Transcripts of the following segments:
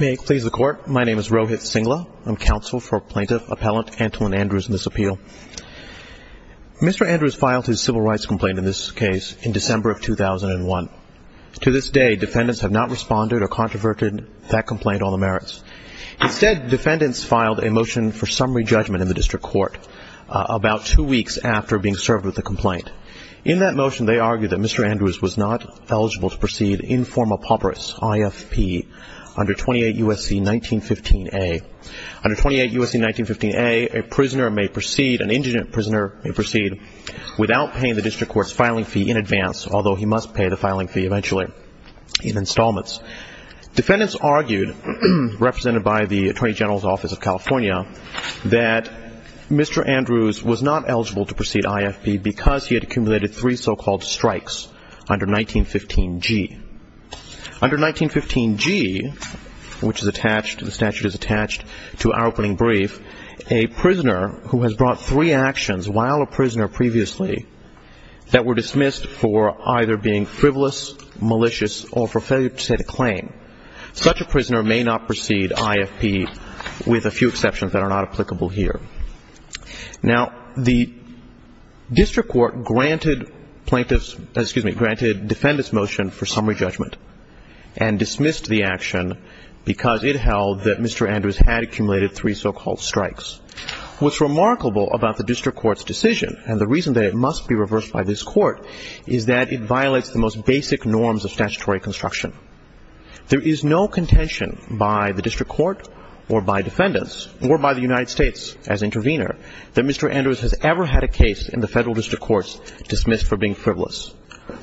May it please the Court, my name is Rohit Singla. I'm counsel for Plaintiff Appellant Antle and Andrews in this appeal. Mr. Andrews filed his civil rights complaint in this case in December of 2001. To this day, defendants have not responded or controverted that complaint on the merits. Instead, defendants filed a motion for summary judgment in the district court about two weeks after being served with the complaint. In that motion, they argued that Mr. Andrews was not eligible to proceed in forma pauperis, IFP, under 28 U.S.C. 1915 A, a prisoner may proceed, an indigent prisoner may proceed, without paying the district court's filing fee in advance, although he must pay the filing fee eventually in installments. Defendants argued, represented by the Attorney General's Office of California, that Mr. Andrews was not eligible to proceed IFP because he had accumulated three so-called strikes under 1915 G. Under 1915 G, which is attached, the statute is attached to our opening brief, a prisoner who has brought three actions while a prisoner previously that were dismissed for either being frivolous, malicious, or for failure to set a claim, such a prisoner may not proceed IFP with a few exceptions that are not applicable here. Now, the district court granted plaintiffs, excuse me, granted defendants' motion for summary judgment and dismissed the action because it held that Mr. Andrews had accumulated three so-called strikes. What's remarkable about the district court's decision, and the reason that it must be reversed by this court, is that it violates the most basic norms of statutory construction. There is no contention by the district court or by defendants or by the United States as intervener that Mr. Andrews has ever had a case in the federal district courts dismissed for being frivolous,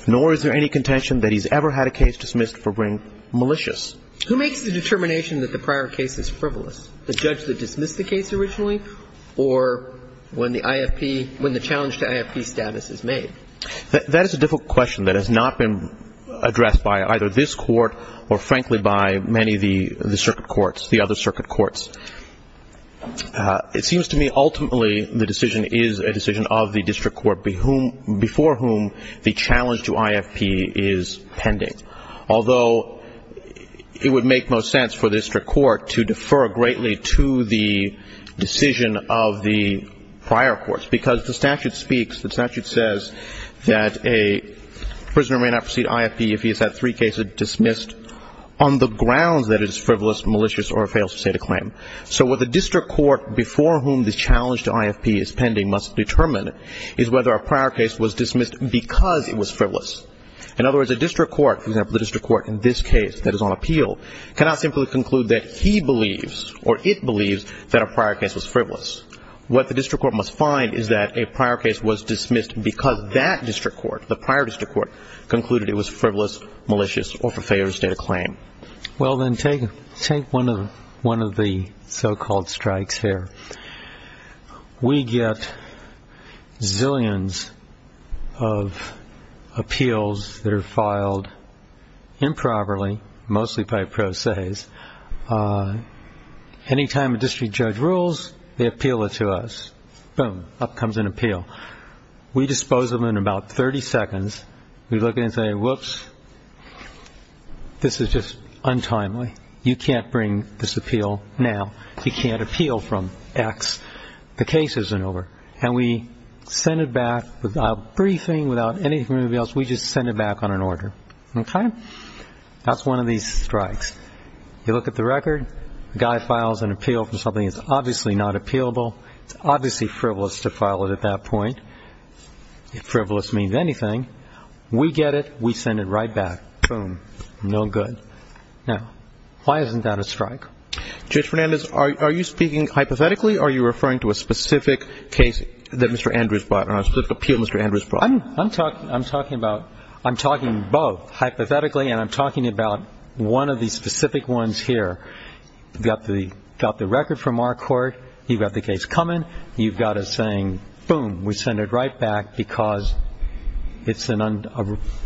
nor is there any contention that he's ever had a case dismissed for being malicious. Who makes the determination that the prior case is frivolous? The judge that dismissed the case originally or when the IFP, when the challenge to IFP status is made? That is a difficult question that has not been addressed by either this court or frankly by many of the circuit courts, the other circuit courts. It seems to me ultimately the decision is a decision of the district court before whom the challenge to IFP is pending, although it would make most sense for the district court to defer greatly to the decision of the prior courts because the statute speaks, the statute says that a prisoner may not precede IFP if he has had three cases dismissed on the grounds that it is frivolous, malicious, or fails to state a claim. So what the district court before whom the challenge to IFP is pending must determine is whether a prior case was dismissed because it was frivolous. In other words, a district court, for example, the district court in this case that is on appeal, cannot simply conclude that he believes or it believes that a prior case was frivolous. What the district court must find is that a prior case was dismissed because that district court, the prior district court, concluded it was frivolous, malicious, or fails to state a claim. Well then take one of the so-called strikes here. We get zillions of appeals that are filed improperly, mostly by pro ses. Any time a district judge rules, they appeal it to us. Boom, up comes an appeal. We dispose of them in about 30 seconds. We look at it and say, whoops, this is just untimely. You can't bring this appeal now. You can't appeal from X. The case isn't over. And we send it back without briefing, without anything else. We just send it back on an order. Okay? That's one of these strikes. You look at the record. The guy files an appeal for something that's obviously not appealable. It's obviously frivolous to file it at that point. If frivolous means anything, we get it. We send it right back. Boom. No good. Now, why isn't that a strike? Judge Fernandez, are you speaking hypothetically or are you referring to a specific case that Mr. Andrews brought, a specific appeal Mr. Andrews brought? I'm talking about both, hypothetically, and I'm talking about one of the specific ones here. You've got the record from our court. You've got the case coming. You've got it saying, boom, we send it right back because it's an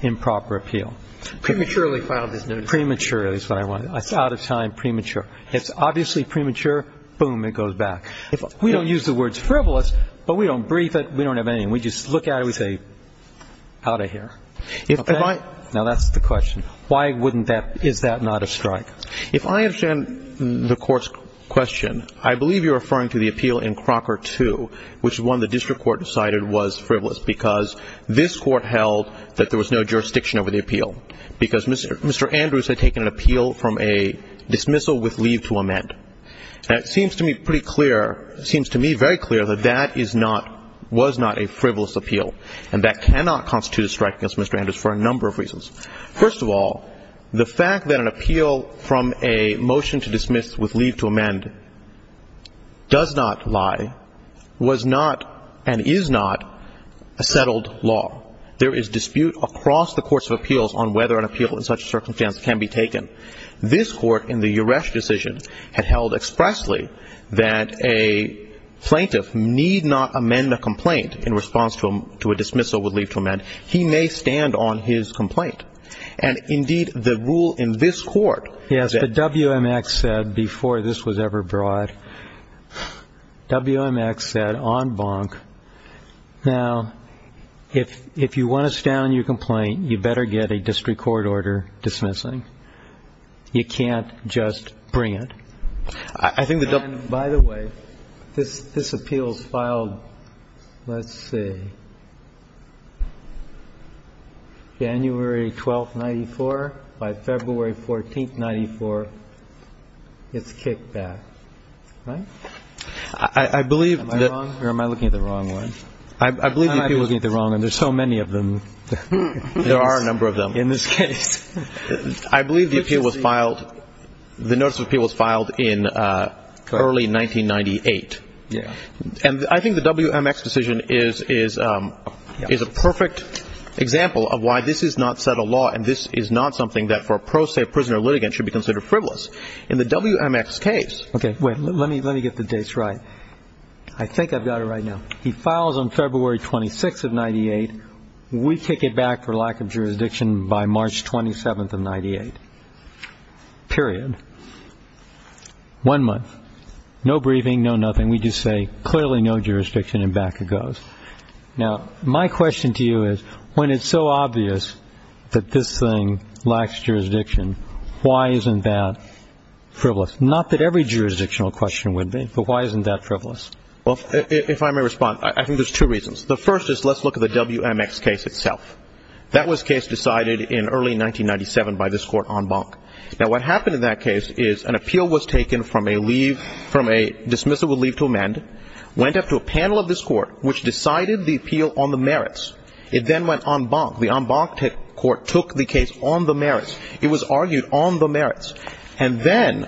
improper appeal. Prematurely filed this notice. Prematurely is what I wanted. It's out of time, premature. It's obviously premature. Boom, it goes back. We don't use the words frivolous, but we don't brief it. We don't have anything. We just look at it. We say, out of here. Okay? Now, that's the question. Why wouldn't that – is that not a strike? If I understand the court's question, I believe you're referring to the appeal in Crocker 2, which is one the district court decided was frivolous because this court held that there was no jurisdiction over the appeal because Mr. Andrews had taken an appeal from a dismissal with leave to amend. Now, it seems to me pretty clear – it seems to me very clear that that is not – was not a frivolous appeal, and that cannot constitute a strike against Mr. Andrews for a number of reasons. First of all, the fact that an appeal from a motion to dismiss with leave to amend does not lie, was not and is not a settled law. There is dispute across the courts of appeals on whether an appeal in such a circumstance can be taken. This court in the Uresh decision had held expressly that a plaintiff need not stand on his complaint. And, indeed, the rule in this court – Yes, but WMX said before this was ever brought – WMX said on Bonk, now, if you want to stand on your complaint, you better get a district court order dismissing. You can't just bring it. I think the – And, by the way, this appeal is filed – let's see. January 12, 1994, by February 14, 1994, it's kicked back, right? I believe that – Am I wrong, or am I looking at the wrong one? I believe the appeal was – I'm not looking at the wrong one. There's so many of them. There are a number of them. In this case. I believe the appeal was filed – the notice of appeal was filed in early 1998. Yes. And I think the WMX decision is a perfect example of why this is not set a law, and this is not something that for a pro se prisoner litigant should be considered frivolous. In the WMX case – Okay, wait. Let me get the dates right. I think I've got it right now. He files on February 26 of 1998. We kick it back for lack of jurisdiction by March 27 of 1998. Period. One month. No briefing, no nothing. We just say, clearly no jurisdiction, and back it goes. Now, my question to you is, when it's so obvious that this thing lacks jurisdiction, why isn't that frivolous? Not that every jurisdictional question would be, but why isn't that frivolous? Well, if I may respond, I think there's two reasons. The first is, let's look at the WMX case itself. That was case decided in early 1997 by this Court, en banc. Now, what happened in that case is, an appeal was taken from a dismissal with leave to amend, went up to a panel of this Court, which decided the appeal on the merits. It then went en banc. The en banc Court took the case on the merits. It was argued on the merits. And then,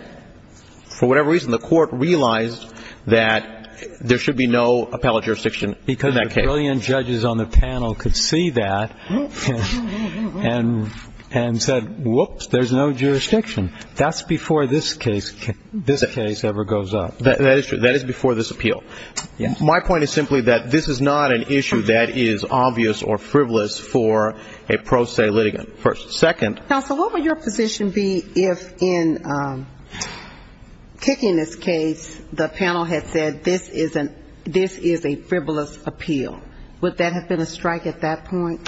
for whatever reason, the Court realized that there should be no appellate jurisdiction in that case. And a trillion judges on the panel could see that and said, whoops, there's no jurisdiction. That's before this case ever goes up. That is true. That is before this appeal. Yes. My point is simply that this is not an issue that is obvious or frivolous for a pro se litigant. Second. Counsel, what would your position be if, in kicking this case, the panel had said this is a frivolous appeal? Would that have been a strike at that point?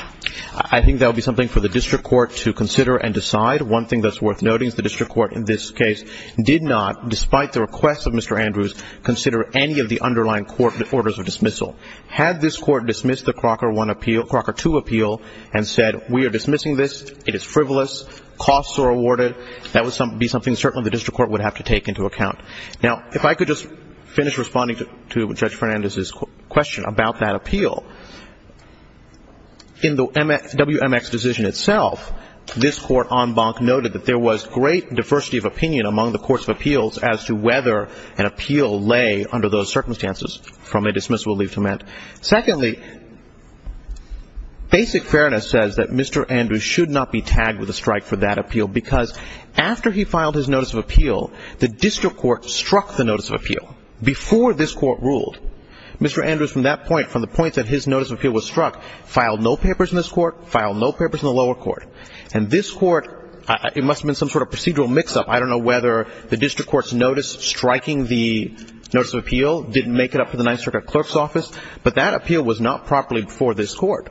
I think that would be something for the district court to consider and decide. One thing that's worth noting is the district court in this case did not, despite the request of Mr. Andrews, consider any of the underlying court orders of dismissal. Had this Court dismissed the Crocker I appeal, Crocker II appeal, and said we are dismissing this, it is frivolous, costs are awarded, that would be something certainly the district court would have to take into account. Now, if I could just finish responding to Judge Fernandez's question about that appeal. In the WMX decision itself, this Court en banc noted that there was great diversity of opinion among the courts of appeals as to whether an appeal lay under those circumstances from a dismissal leave to amend. Secondly, basic fairness says that Mr. Andrews should not be tagged with a strike for that appeal because after he filed his notice of appeal, the district court struck the notice of appeal before this Court ruled. Mr. Andrews from that point, from the point that his notice of appeal was struck, filed no papers in this Court, filed no papers in the lower Court. And this Court, it must have been some sort of procedural mix-up. I don't know whether the district court's notice striking the notice of appeal didn't make it up to the Ninth Circuit Clerk's Office, but that appeal was not properly before this Court.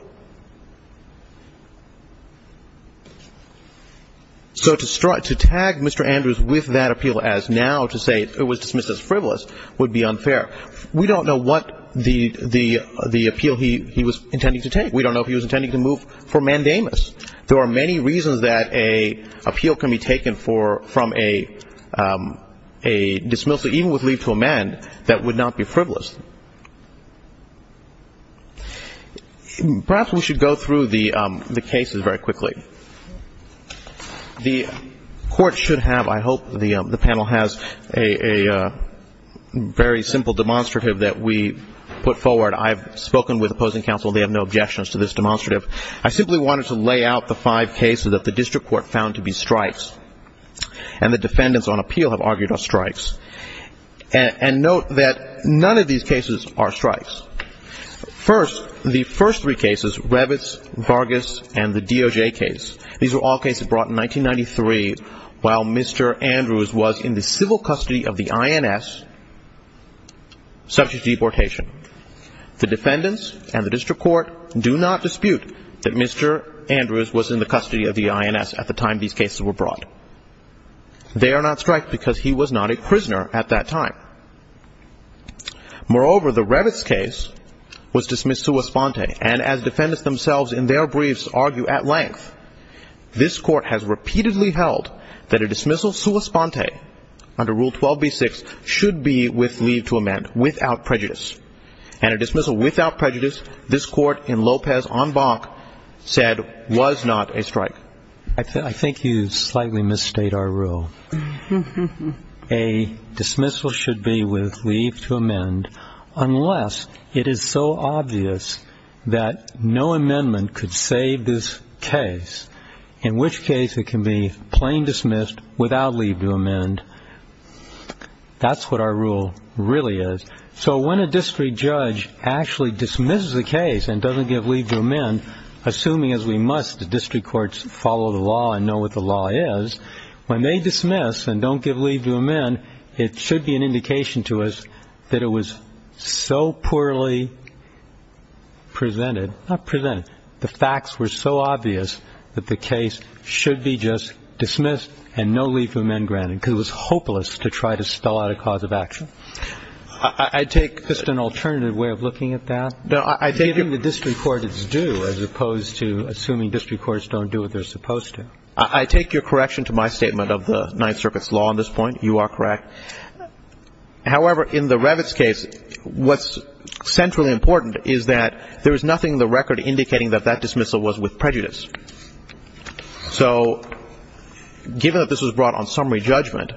So to strike, to tag Mr. Andrews with that appeal as now to say it was dismissed as frivolous would be unfair. We don't know what the appeal he was intending to take. We don't know if he was intending to move for mandamus. There are many reasons that an appeal can be taken from a dismissal, even with leave to amend, that would not be frivolous. Perhaps we should go through the cases very quickly. The Court should have, I hope the panel has, a very simple demonstrative that we put forward. I have spoken with opposing counsel. They have no objections to this demonstrative. I simply wanted to lay out the five cases that the district court found to be strikes. And the defendants on appeal have argued are strikes. And note that none of these cases are strikes. First, the first three cases, Revitz, Vargas, and the DOJ case, these were all cases brought in 1993, while Mr. Andrews was in the civil custody of the INS, subject to deportation. The defendants and the district court do not dispute that Mr. Andrews was in the custody of the INS at the time these cases were brought. They are not strikes because he was not a prisoner at that time. Moreover, the Revitz case was dismissed sua sponte, and as defendants themselves in their briefs argue at length, this Court has repeatedly held that a dismissal sua sponte under Rule 12b-6 should be with leave to amend, without prejudice. And a dismissal without prejudice, this Court in Lopez on Bach said was not a strike. I think you slightly misstate our rule. A dismissal should be with leave to amend unless it is so obvious that no amendment could save this case, in which case it can be plain dismissed without leave to amend. That's what our rule really is. So when a district judge actually dismisses a case and doesn't give leave to amend, assuming as we must the district courts follow the law and know what the law is, when they dismiss and don't give leave to amend, it should be an indication to us that it was so poorly presented. Not presented. The facts were so obvious that the case should be just dismissed and no leave to amend granted because it was hopeless to try to spell out a cause of action. I take just an alternative way of looking at that. No, I take it. Giving the district court its due as opposed to assuming district courts don't do what they're supposed to. I take your correction to my statement of the Ninth Circuit's law on this point. You are correct. However, in the Revitz case, what's centrally important is that there is nothing in the record indicating that that dismissal was with prejudice. So given that this was brought on summary judgment,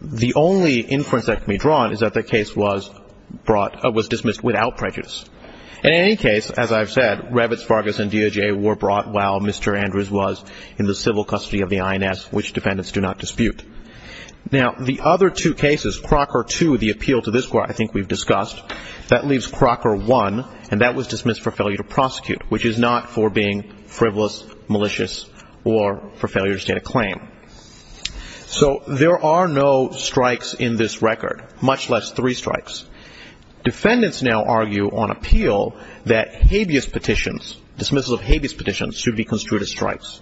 the only inference that can be drawn is that the case was brought or was dismissed without prejudice. In any case, as I've said, Revitz, Vargas, and DOJ were brought while Mr. Andrews was in the civil custody of the INS, which defendants do not dispute. Now, the other two cases, Crocker 2, the appeal to this court I think we've discussed, that leaves Crocker 1, and that was dismissed for failure to prosecute, which is not for being frivolous, malicious, or for failure to state a claim. So there are no strikes in this record, much less three strikes. Defendants now argue on appeal that habeas petitions, dismissal of habeas petitions, should be construed as strikes.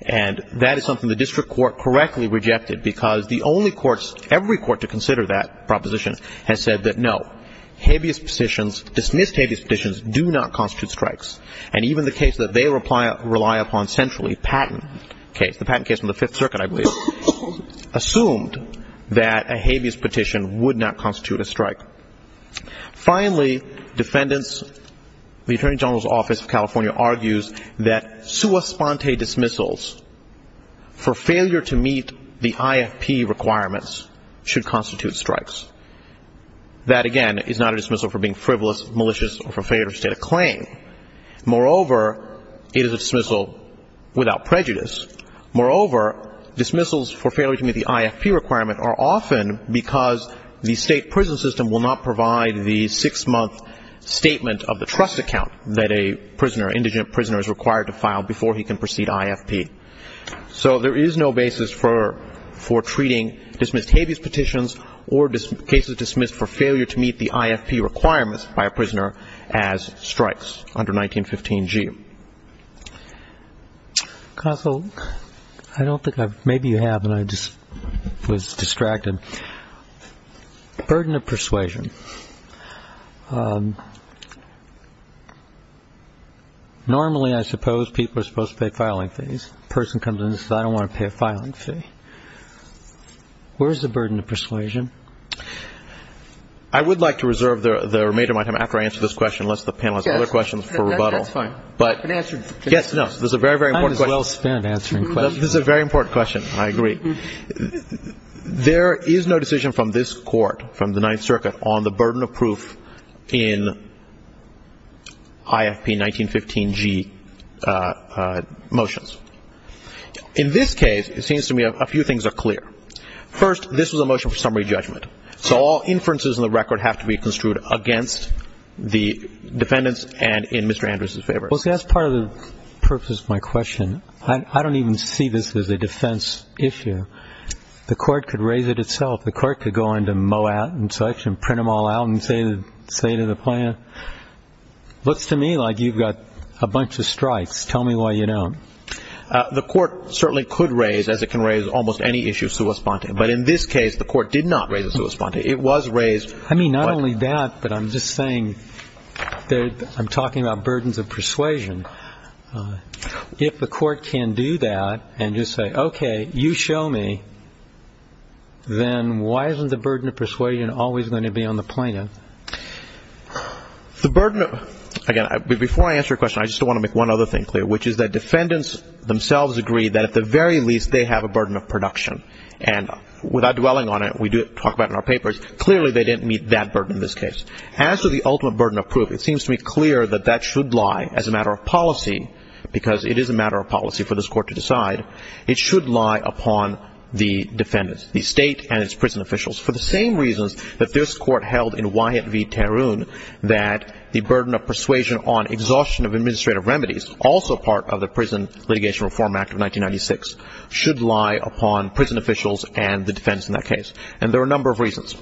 And that is something the district court correctly rejected, because the only courts, every court to consider that proposition has said that no, habeas petitions, dismissed habeas petitions, do not constitute strikes. And even the case that they rely upon centrally, Patton case, assumed that a habeas petition would not constitute a strike. Finally, defendants, the Attorney General's Office of California argues that sua sponte dismissals for failure to meet the IFP requirements should constitute strikes. That, again, is not a dismissal for being frivolous, malicious, or for failure to state a claim. Moreover, it is a dismissal without prejudice. Moreover, dismissals for failure to meet the IFP requirement are often because the state prison system will not provide the six-month statement of the trust account that a prisoner, indigent prisoner, is required to file before he can proceed IFP. So there is no basis for treating dismissed habeas petitions or cases dismissed for failure to meet the IFP requirements by a prisoner as strikes under 1915G. Counsel, I don't think I've, maybe you have, and I just was distracted. Burden of persuasion. Normally, I suppose people are supposed to pay filing fees. A person comes in and says I don't want to pay a filing fee. Where is the burden of persuasion? I would like to reserve the remainder of my time after I answer this question, unless the panel has other questions for rebuttal. That's fine. Yes, no, this is a very, very important question. I am well-spent answering questions. This is a very important question, and I agree. There is no decision from this Court, from the Ninth Circuit, on the burden of proof in IFP 1915G motions. In this case, it seems to me a few things are clear. First, this was a motion for summary judgment. So all inferences in the record have to be construed against the defendants and in Mr. Andrews's favor. Well, see, that's part of the purpose of my question. I don't even see this as a defense issue. The Court could raise it itself. The Court could go into Moat and such and print them all out and say to the plaintiff, looks to me like you've got a bunch of strikes. Tell me why you don't. The Court certainly could raise, as it can raise, almost any issue sui sponte. But in this case, the Court did not raise it sui sponte. It was raised. I mean, not only that, but I'm just saying that I'm talking about burdens of persuasion. If the Court can do that and just say, okay, you show me, then why isn't the burden of persuasion always going to be on the plaintiff? The burden of – again, before I answer your question, I just want to make one other thing clear, which is that defendants themselves agree that at the very least they have a burden of production. And without dwelling on it, we talk about it in our papers, clearly they didn't meet that burden in this case. As to the ultimate burden of proof, it seems to me clear that that should lie, as a matter of policy, because it is a matter of policy for this Court to decide, it should lie upon the defendants, the State and its prison officials, for the same reasons that this Court held in Wyatt v. Tarun, that the burden of persuasion on exhaustion of administrative remedies, also part of the Prison Litigation Reform Act of 1996, should lie upon prison officials and the defendants in that case. And there are a number of reasons.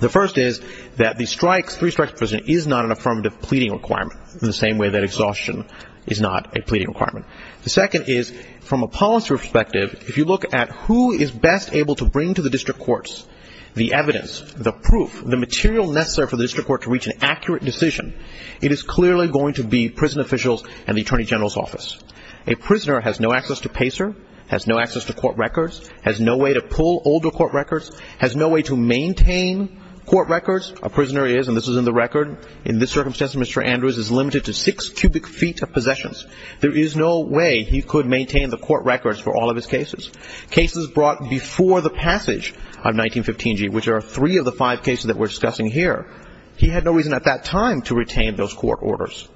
The first is that the three-strike prison is not an affirmative pleading requirement, in the same way that exhaustion is not a pleading requirement. The second is, from a policy perspective, if you look at who is best able to bring to the district courts the evidence, the proof, the material necessary for the district court to reach an accurate decision, it is clearly going to be prison officials and the Attorney General's office. A prisoner has no access to PACER, has no access to court records, has no way to pull older court records, has no way to maintain court records. A prisoner is, and this is in the record, in this circumstance Mr. Andrews is limited to six cubic feet of possessions. There is no way he could maintain the court records for all of his cases. Cases brought before the passage of 1915G, which are three of the five cases that we're discussing here, he had no reason at that time to retain those court orders.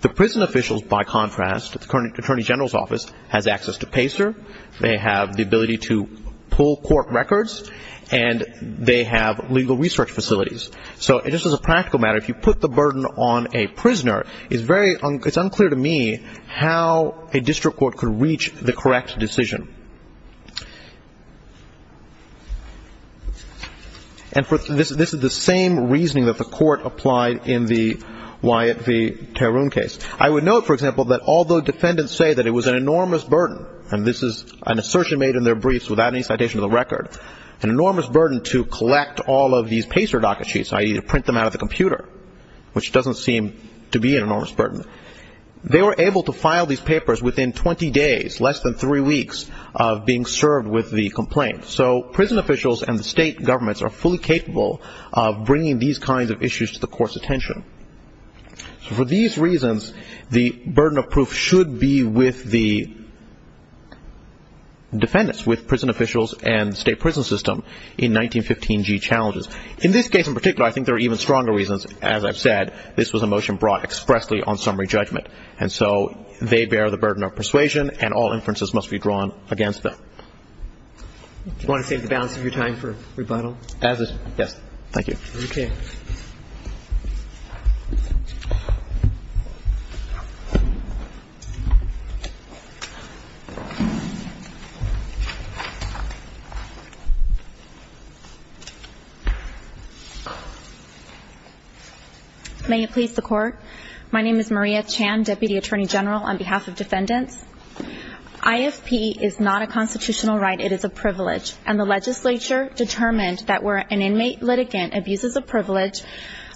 The prison officials, by contrast, the Attorney General's office, has access to PACER, they have the ability to pull court records, and they have legal research facilities. So just as a practical matter, if you put the burden on a prisoner, it's unclear to me how a district court could reach the correct decision. And this is the same reasoning that the court applied in the Tarun case. I would note, for example, that although defendants say that it was an enormous burden, and this is an assertion made in their briefs without any citation of the record, an enormous burden to collect all of these PACER docket sheets, i.e. to print them out of the computer, which doesn't seem to be an enormous burden. They were able to file these papers within 20 days, less than three weeks of being served with the complaint. So prison officials and the state governments are fully capable of bringing these kinds of issues to the court's attention. So for these reasons, the burden of proof should be with the defendants, with prison officials and state prison system in 1915G challenges. In this case in particular, I think there are even stronger reasons. As I've said, this was a motion brought expressly on summary judgment. And so they bear the burden of persuasion, and all inferences must be drawn against them. Do you want to save the balance of your time for rebuttal? Yes. Thank you. Okay. May it please the Court. My name is Maria Chan, Deputy Attorney General, on behalf of defendants. IFP is not a constitutional right, it is a privilege. And the legislature determined that where an inmate litigant abuses a privilege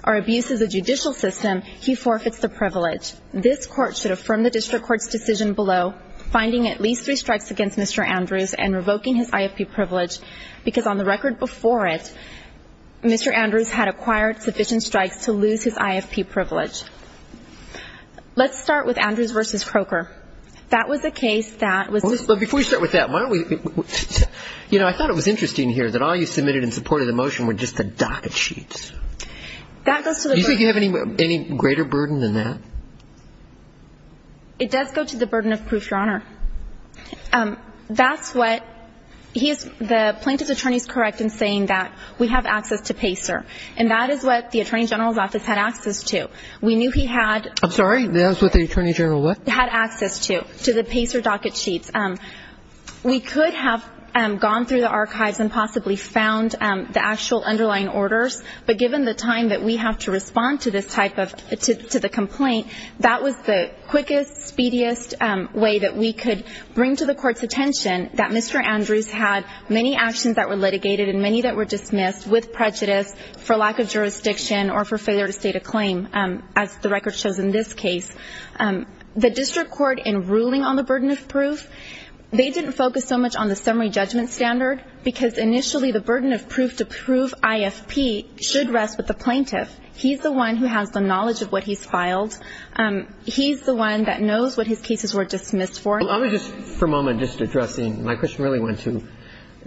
or abuses a judicial system, he forfeits the privilege. This Court should affirm the district court's decision below, finding at least three strikes against Mr. Andrews and revoking his IFP privilege, because on the record before it, Mr. Andrews had acquired sufficient strikes to lose his IFP privilege. Let's start with Andrews v. Croker. That was a case that was ---- But before we start with that, why don't we ---- You know, I thought it was interesting here that all you submitted in support of the motion were just the docket sheets. That goes to the burden. Do you think you have any greater burden than that? It does go to the burden of proof, Your Honor. That's what he is ---- the plaintiff's attorney is correct in saying that we have access to PACER, and that is what the Attorney General's office had access to. We knew he had ---- I'm sorry? That is what the Attorney General what? Had access to, to the PACER docket sheets. We could have gone through the archives and possibly found the actual underlying orders, but given the time that we have to respond to this type of ---- to the complaint, that was the quickest, speediest way that we could bring to the Court's attention that Mr. Andrews had many actions that were litigated and many that were dismissed with prejudice for lack of jurisdiction or for failure to state a claim, as the record shows in this case. The district court in ruling on the burden of proof, they didn't focus so much on the summary judgment standard because initially the burden of proof to prove IFP should rest with the plaintiff. He's the one who has the knowledge of what he's filed. He's the one that knows what his cases were dismissed for. I'm going to just for a moment just addressing, my question really went to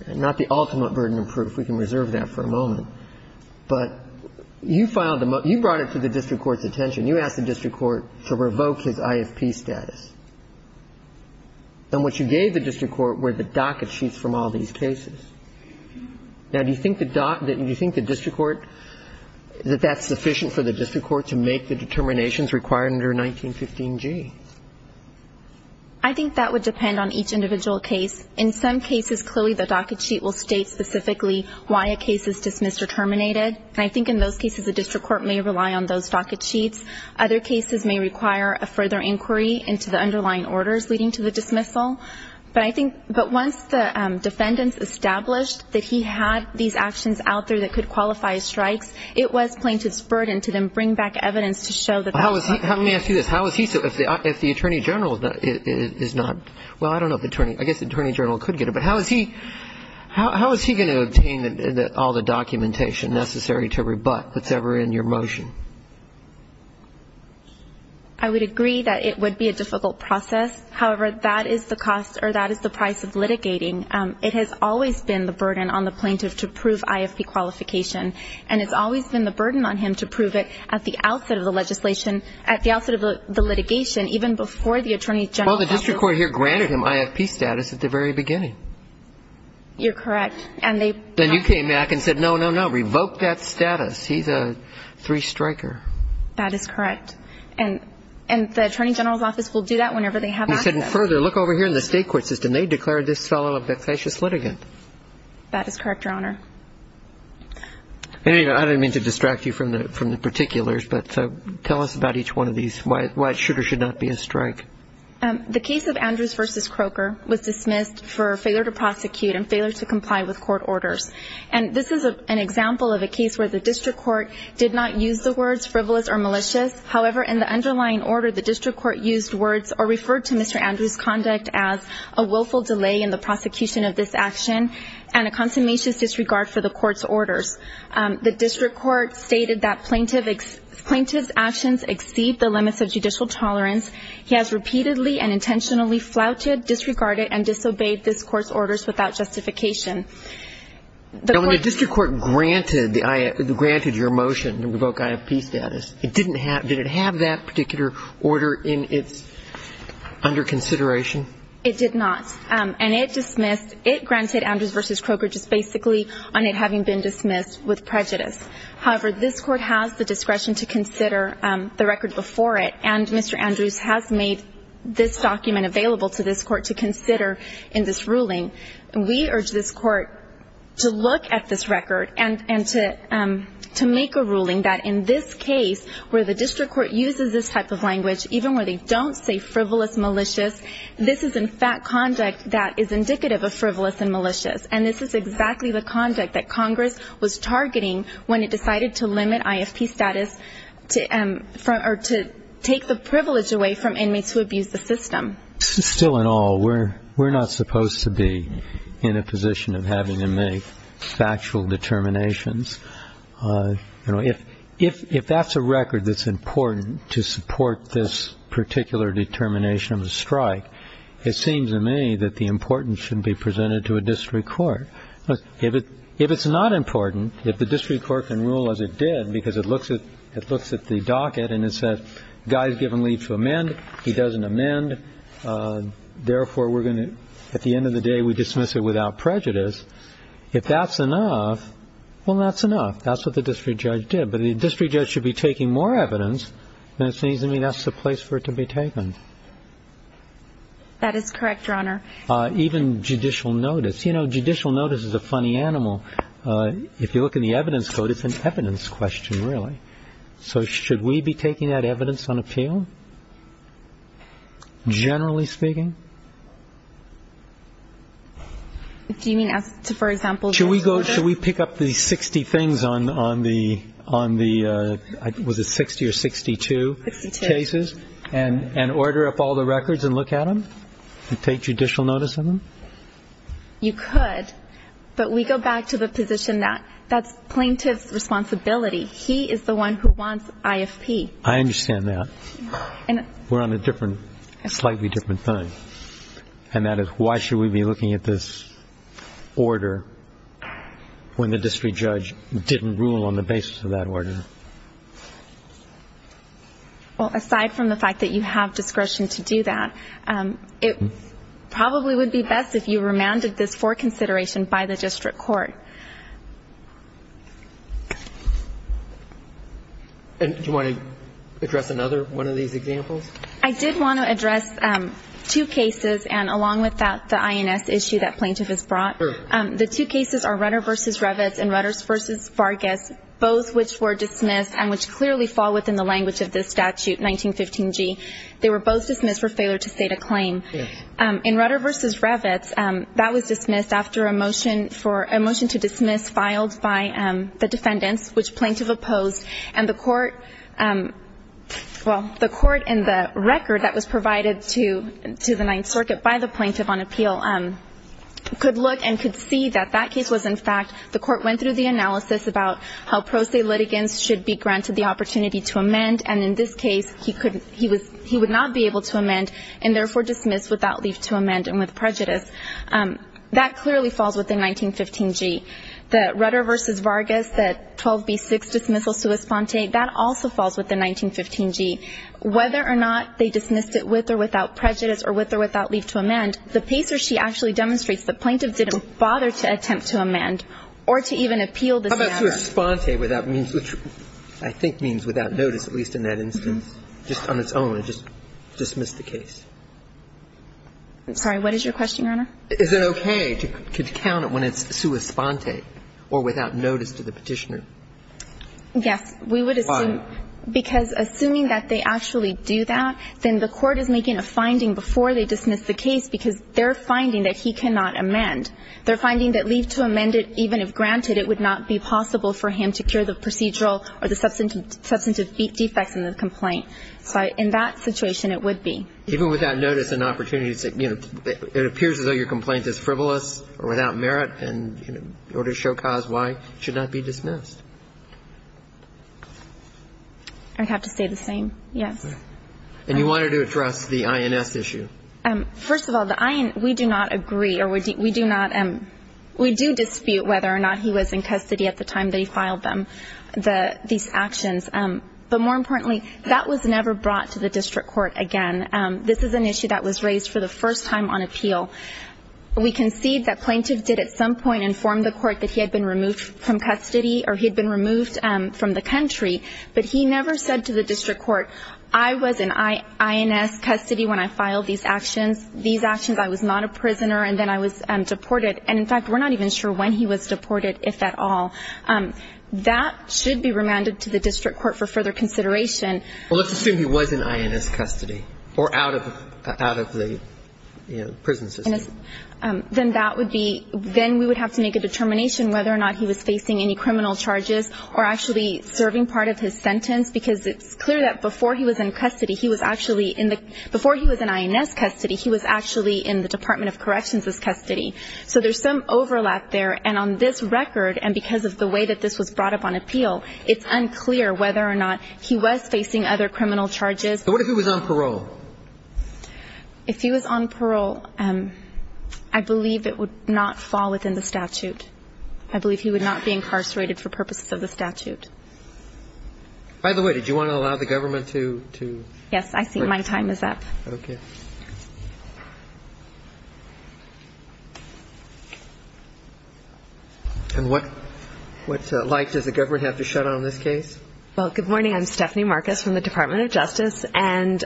not the ultimate burden of proof. We can reserve that for a moment. But you brought it to the district court's attention. You asked the district court to revoke his IFP status. And what you gave the district court were the docket sheets from all these cases. Now, do you think the district court, that that's sufficient for the district court to make the determinations required under 1915g? I think that would depend on each individual case. In some cases, clearly the docket sheet will state specifically why a case is dismissed or terminated. And I think in those cases the district court may rely on those docket sheets. Other cases may require a further inquiry into the underlying orders leading to the dismissal. But I think, but once the defendants established that he had these actions out there that could qualify strikes, it was plaintiff's burden to then bring back evidence to show that that was not. Let me ask you this. How is he, if the attorney general is not, well, I don't know if the attorney, I guess the attorney general could get it. But how is he, how is he going to obtain all the documentation necessary to rebut what's ever in your motion? I would agree that it would be a difficult process. However, that is the cost or that is the price of litigating. It has always been the burden on the plaintiff to prove IFP qualification. And it's always been the burden on him to prove it at the outset of the legislation, at the outset of the litigation, even before the attorney general. Well, the district court here granted him IFP status at the very beginning. You're correct. Then you came back and said, no, no, no, revoke that status. He's a three-striker. That is correct. And the attorney general's office will do that whenever they have access. And further, look over here in the state court system. They declared this fellow a facetious litigant. That is correct, Your Honor. Anyway, I didn't mean to distract you from the particulars, but tell us about each one of these, why it should or should not be a strike. The case of Andrews v. Croker was dismissed for failure to prosecute and failure to comply with court orders. And this is an example of a case where the district court did not use the words frivolous or malicious. However, in the underlying order, the district court used words or referred to Mr. Andrews' conduct as a willful delay in the prosecution of this action and a consummation disregard for the court's orders. The district court stated that plaintiff's actions exceed the limits of judicial tolerance. He has repeatedly and intentionally flouted, disregarded, and disobeyed this court's orders without justification. Now, when the district court granted your motion to revoke IFP status, did it have that particular order under consideration? It did not. And it dismissed, it granted Andrews v. Croker just basically on it having been dismissed with prejudice. However, this court has the discretion to consider the record before it, and Mr. Andrews has made this document available to this court to consider in this ruling. We urge this court to look at this record and to make a ruling that in this case where the district court uses this type of language, even where they don't say frivolous, malicious, this is in fact conduct that is indicative of frivolous and malicious. And this is exactly the conduct that Congress was targeting when it decided to limit IFP status or to take the privilege away from enemies who abuse the system. Still in all, we're not supposed to be in a position of having to make factual determinations. If that's a record that's important to support this particular determination of a strike, it seems to me that the importance should be presented to a district court. If it's not important, if the district court can rule as it did because it looks at the docket and it says the guy has given leave to amend, he doesn't amend, therefore at the end of the day we dismiss it without prejudice. If that's enough, well, that's enough. That's what the district judge did. But the district judge should be taking more evidence, and it seems to me that's the place for it to be taken. That is correct, Your Honor. Even judicial notice. You know, judicial notice is a funny animal. If you look in the evidence code, it's an evidence question, really. So should we be taking that evidence on appeal, generally speaking? Do you mean, for example, the order? Should we pick up the 60 things on the 60 or 62 cases and order up all the records and look at them and take judicial notice of them? You could, but we go back to the position that that's plaintiff's responsibility. He is the one who wants IFP. I understand that. We're on a different, slightly different thing, and that is why should we be looking at this order when the district judge didn't rule on the basis of that order? Well, aside from the fact that you have discretion to do that, it probably would be best if you remanded this for consideration by the district court. And do you want to address another one of these examples? I did want to address two cases, and along with that, the INS issue that plaintiff has brought. Sure. The two cases are Rudder v. Revitz and Rudders v. Vargas, both which were dismissed and which clearly fall within the language of this statute, 1915G. They were both dismissed for failure to state a claim. In Rudder v. Revitz, that was dismissed after a motion to dismiss filed by the defendants, which plaintiff opposed, and the court, well, the court in the record that was provided to the Ninth Circuit by the plaintiff on appeal could look and could see that that case was, in fact, the court went through the analysis about how pro se litigants should be granted the opportunity to amend, and in this case, he would not be able to amend and therefore dismiss without leave to amend and with prejudice. That clearly falls within 1915G. The Rudder v. Vargas, the 12b-6 dismissal sua sponte, that also falls within 1915G. Whether or not they dismissed it with or without prejudice or with or without leave to amend, the PACER sheet actually demonstrates the plaintiff didn't bother to attempt to amend or to even appeal this matter. How about sua sponte, which I think means without notice, at least in that instance, just on its own, it just dismissed the case? I'm sorry. What is your question, Your Honor? Is it okay to count it when it's sua sponte or without notice to the Petitioner? Yes. Why? Because assuming that they actually do that, then the court is making a finding before they dismiss the case because they're finding that he cannot amend. They're finding that leave to amend it, even if granted, it would not be possible for him to cure the procedural or the substantive defects in the complaint. So in that situation, it would be. Even without notice and opportunity, it appears as though your complaint is frivolous or without merit, and in order to show cause why, it should not be dismissed. I'd have to say the same, yes. And you wanted to address the INS issue. First of all, the INS, we do not agree or we do not – we do dispute whether or not he was in custody at the time that he filed them, these actions. But more importantly, that was never brought to the district court again. This is an issue that was raised for the first time on appeal. We concede that plaintiffs did at some point inform the court that he had been removed from custody or he had been removed from the country, but he never said to the district court, I was in INS custody when I filed these actions. These actions, I was not a prisoner, and then I was deported. And in fact, we're not even sure when he was deported, if at all. That should be remanded to the district court for further consideration. Well, let's assume he was in INS custody or out of the prison system. Then that would be – then we would have to make a determination whether or not he was facing any criminal charges or actually serving part of his sentence, because it's clear that before he was in custody, he was actually in the – before he was in INS custody, he was actually in the Department of Corrections' custody. So there's some overlap there. And on this record, and because of the way that this was brought up on appeal, it's unclear whether or not he was facing other criminal charges. But what if he was on parole? If he was on parole, I believe it would not fall within the statute. I believe he would not be incarcerated for purposes of the statute. By the way, did you want to allow the government to – Yes. I see my time is up. Okay. And what – what light does the government have to shed on this case? Well, good morning. I'm Stephanie Marcus from the Department of Justice. And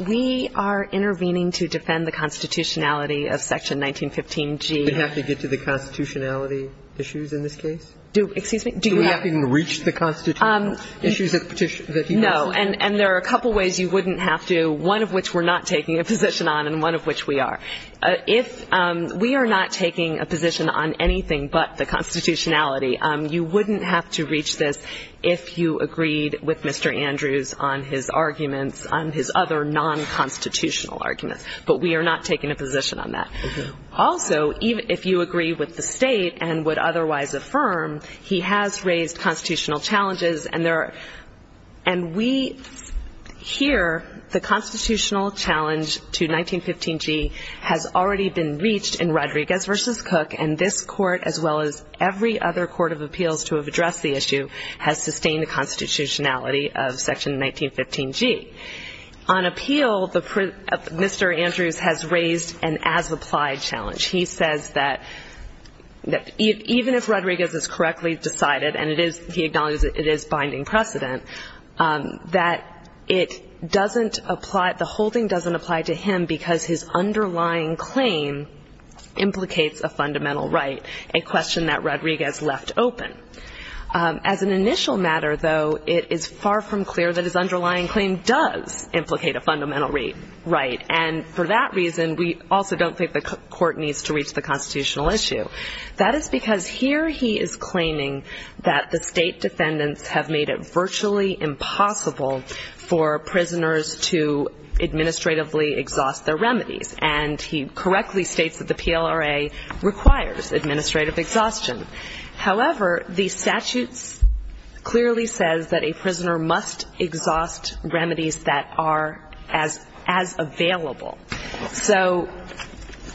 we are intervening to defend the constitutionality of Section 1915G. Do we have to get to the constitutionality issues in this case? Do – excuse me? Do we have to even reach the constitutional issues that he mentioned? No. And there are a couple ways you wouldn't have to, one of which we're not taking a position on and one of which we are. If – we are not taking a position on anything but the constitutionality. You wouldn't have to reach this if you agreed with Mr. Andrews on his arguments, on his other non-constitutional arguments. But we are not taking a position on that. Also, if you agree with the state and would otherwise affirm, he has raised constitutional challenges. And there are – and we hear the constitutional challenge to 1915G has already been reached in Rodriguez v. Cook, and this court as well as every other court of appeals to have addressed the issue has sustained the constitutionality of Section 1915G. On appeal, Mr. Andrews has raised an as-applied challenge. He says that even if Rodriguez is correctly decided, and he acknowledges it is binding precedent, that it doesn't apply – the holding doesn't apply to him because his underlying claim implicates a fundamental right, a question that Rodriguez left open. As an initial matter, though, it is far from clear that his underlying claim does implicate a fundamental right. And for that reason, we also don't think the court needs to reach the constitutional issue. That is because here he is claiming that the state defendants have made it virtually impossible for prisoners to administratively exhaust their remedies. And he correctly states that the PLRA requires administrative exhaustion. However, the statute clearly says that a prisoner must exhaust remedies that are as available. So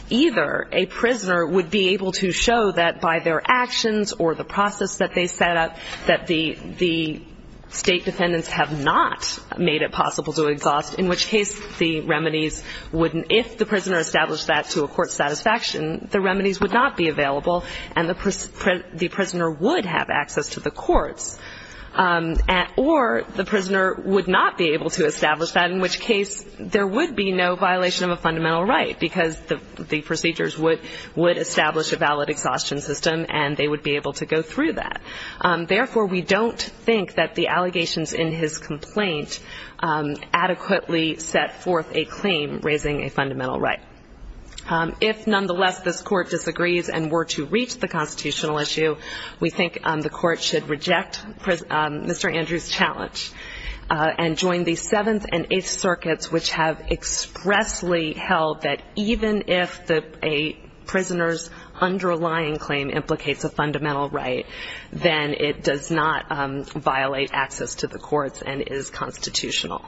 either a prisoner would be able to show that by their actions or the process that they set up that the state defendants have not made it possible to exhaust, in which case the remedies wouldn't – if the prisoner established that to a court's satisfaction, the remedies would not be available and the prisoner would have access to the courts, or the prisoner would not be able to establish that, in which case there would be no violation of a fundamental right because the procedures would establish a valid exhaustion system and they would be able to go through that. Therefore, we don't think that the allegations in his complaint adequately set forth a claim raising a fundamental right. If, nonetheless, this Court disagrees and were to reach the constitutional issue, we think the Court should reject Mr. Andrews' challenge and join the Seventh and Eighth Circuits, which have expressly held that even if a prisoner's underlying claim implicates a fundamental right, then it does not violate access to the courts and is constitutional.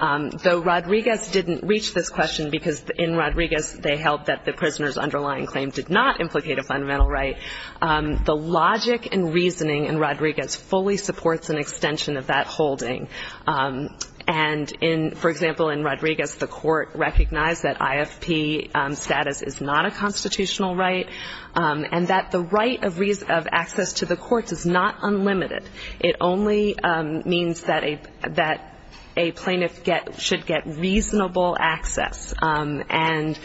Though Rodriguez didn't reach this question because in Rodriguez they held that the prisoner's underlying claim did not implicate a fundamental right, the logic and reasoning in Rodriguez fully supports an extension of that holding. And, for example, in Rodriguez the Court recognized that IFP status is not a constitutional right and that the right of access to the courts is not unlimited. It only means that a plaintiff should get reasonable access. And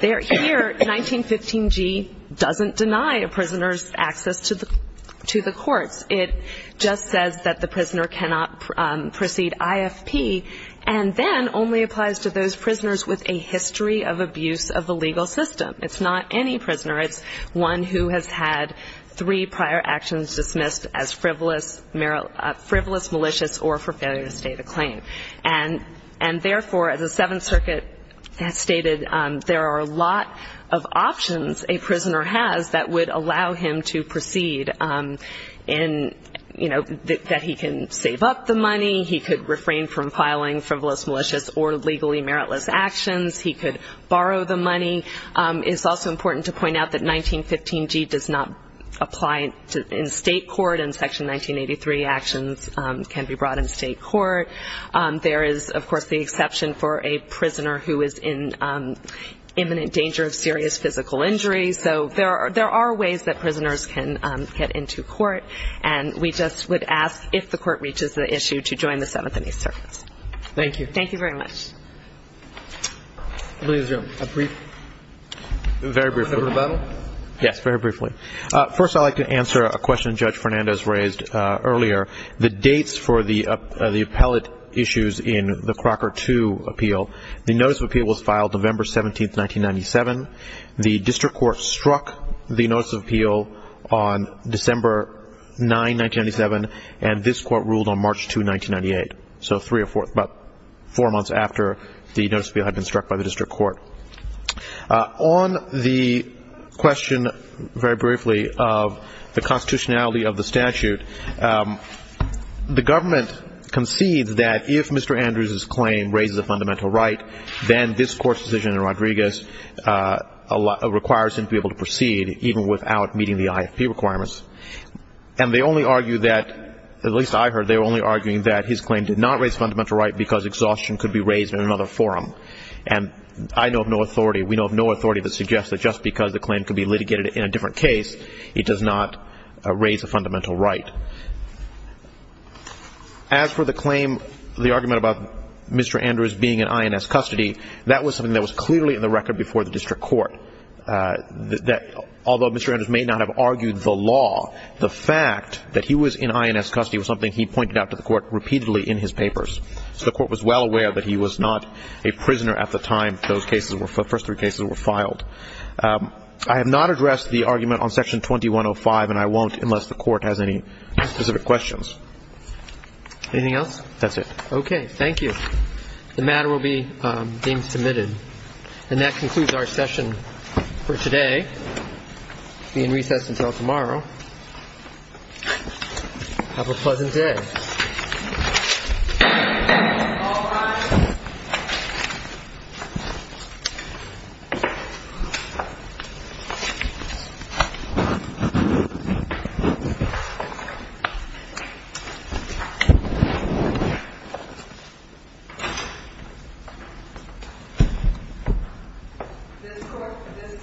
here 1915G doesn't deny a prisoner's access to the courts. It just says that the prisoner cannot proceed IFP and then only applies to those prisoners with a history of abuse of the legal system. It's not any prisoner. It's one who has had three prior actions dismissed as frivolous, malicious, or for failure to state a claim. And, therefore, as the Seventh Circuit has stated, there are a lot of options a prisoner has that would allow him to proceed in, you know, that he can save up the money. He could refrain from filing frivolous, malicious, or legally meritless actions. He could borrow the money. It's also important to point out that 1915G does not apply in state court and Section 1983 actions can be brought in state court. There is, of course, the exception for a prisoner who is in imminent danger of serious physical injury. So there are ways that prisoners can get into court, and we just would ask if the court reaches the issue to join the Seventh and Eighth Circuits. Thank you. Thank you very much. Please, Jim, a brief? Very briefly. Yes, very briefly. First, I'd like to answer a question Judge Fernandez raised earlier. The dates for the appellate issues in the Crocker II appeal, the notice of appeal was filed November 17, 1997. The district court struck the notice of appeal on December 9, 1997, and this court ruled on March 2, 1998. So three or four months after the notice of appeal had been struck by the district court. On the question, very briefly, of the constitutionality of the statute, the government concedes that if Mr. Andrews's claim raises a fundamental right, then this court's decision in Rodriguez requires him to be able to proceed even without meeting the IFP requirements. And they only argue that, at least I heard, they were only arguing that his claim did not raise a fundamental right because exhaustion could be raised in another forum. And I know of no authority, we know of no authority that suggests that just because the claim could be litigated in a different case, it does not raise a fundamental right. As for the claim, the argument about Mr. Andrews being in INS custody, that was something that was clearly in the record before the district court, that although Mr. Andrews may not have argued the law, the fact that he was in INS custody was something he pointed out to the court repeatedly in his papers. So the court was well aware that he was not a prisoner at the time those cases were, the first three cases were filed. I have not addressed the argument on Section 2105, and I won't unless the court has any specific questions. Anything else? That's it. Okay, thank you. The matter will be being submitted. And that concludes our session for today. It's being recessed until tomorrow. Have a pleasant day. This court for this session stands adjourned.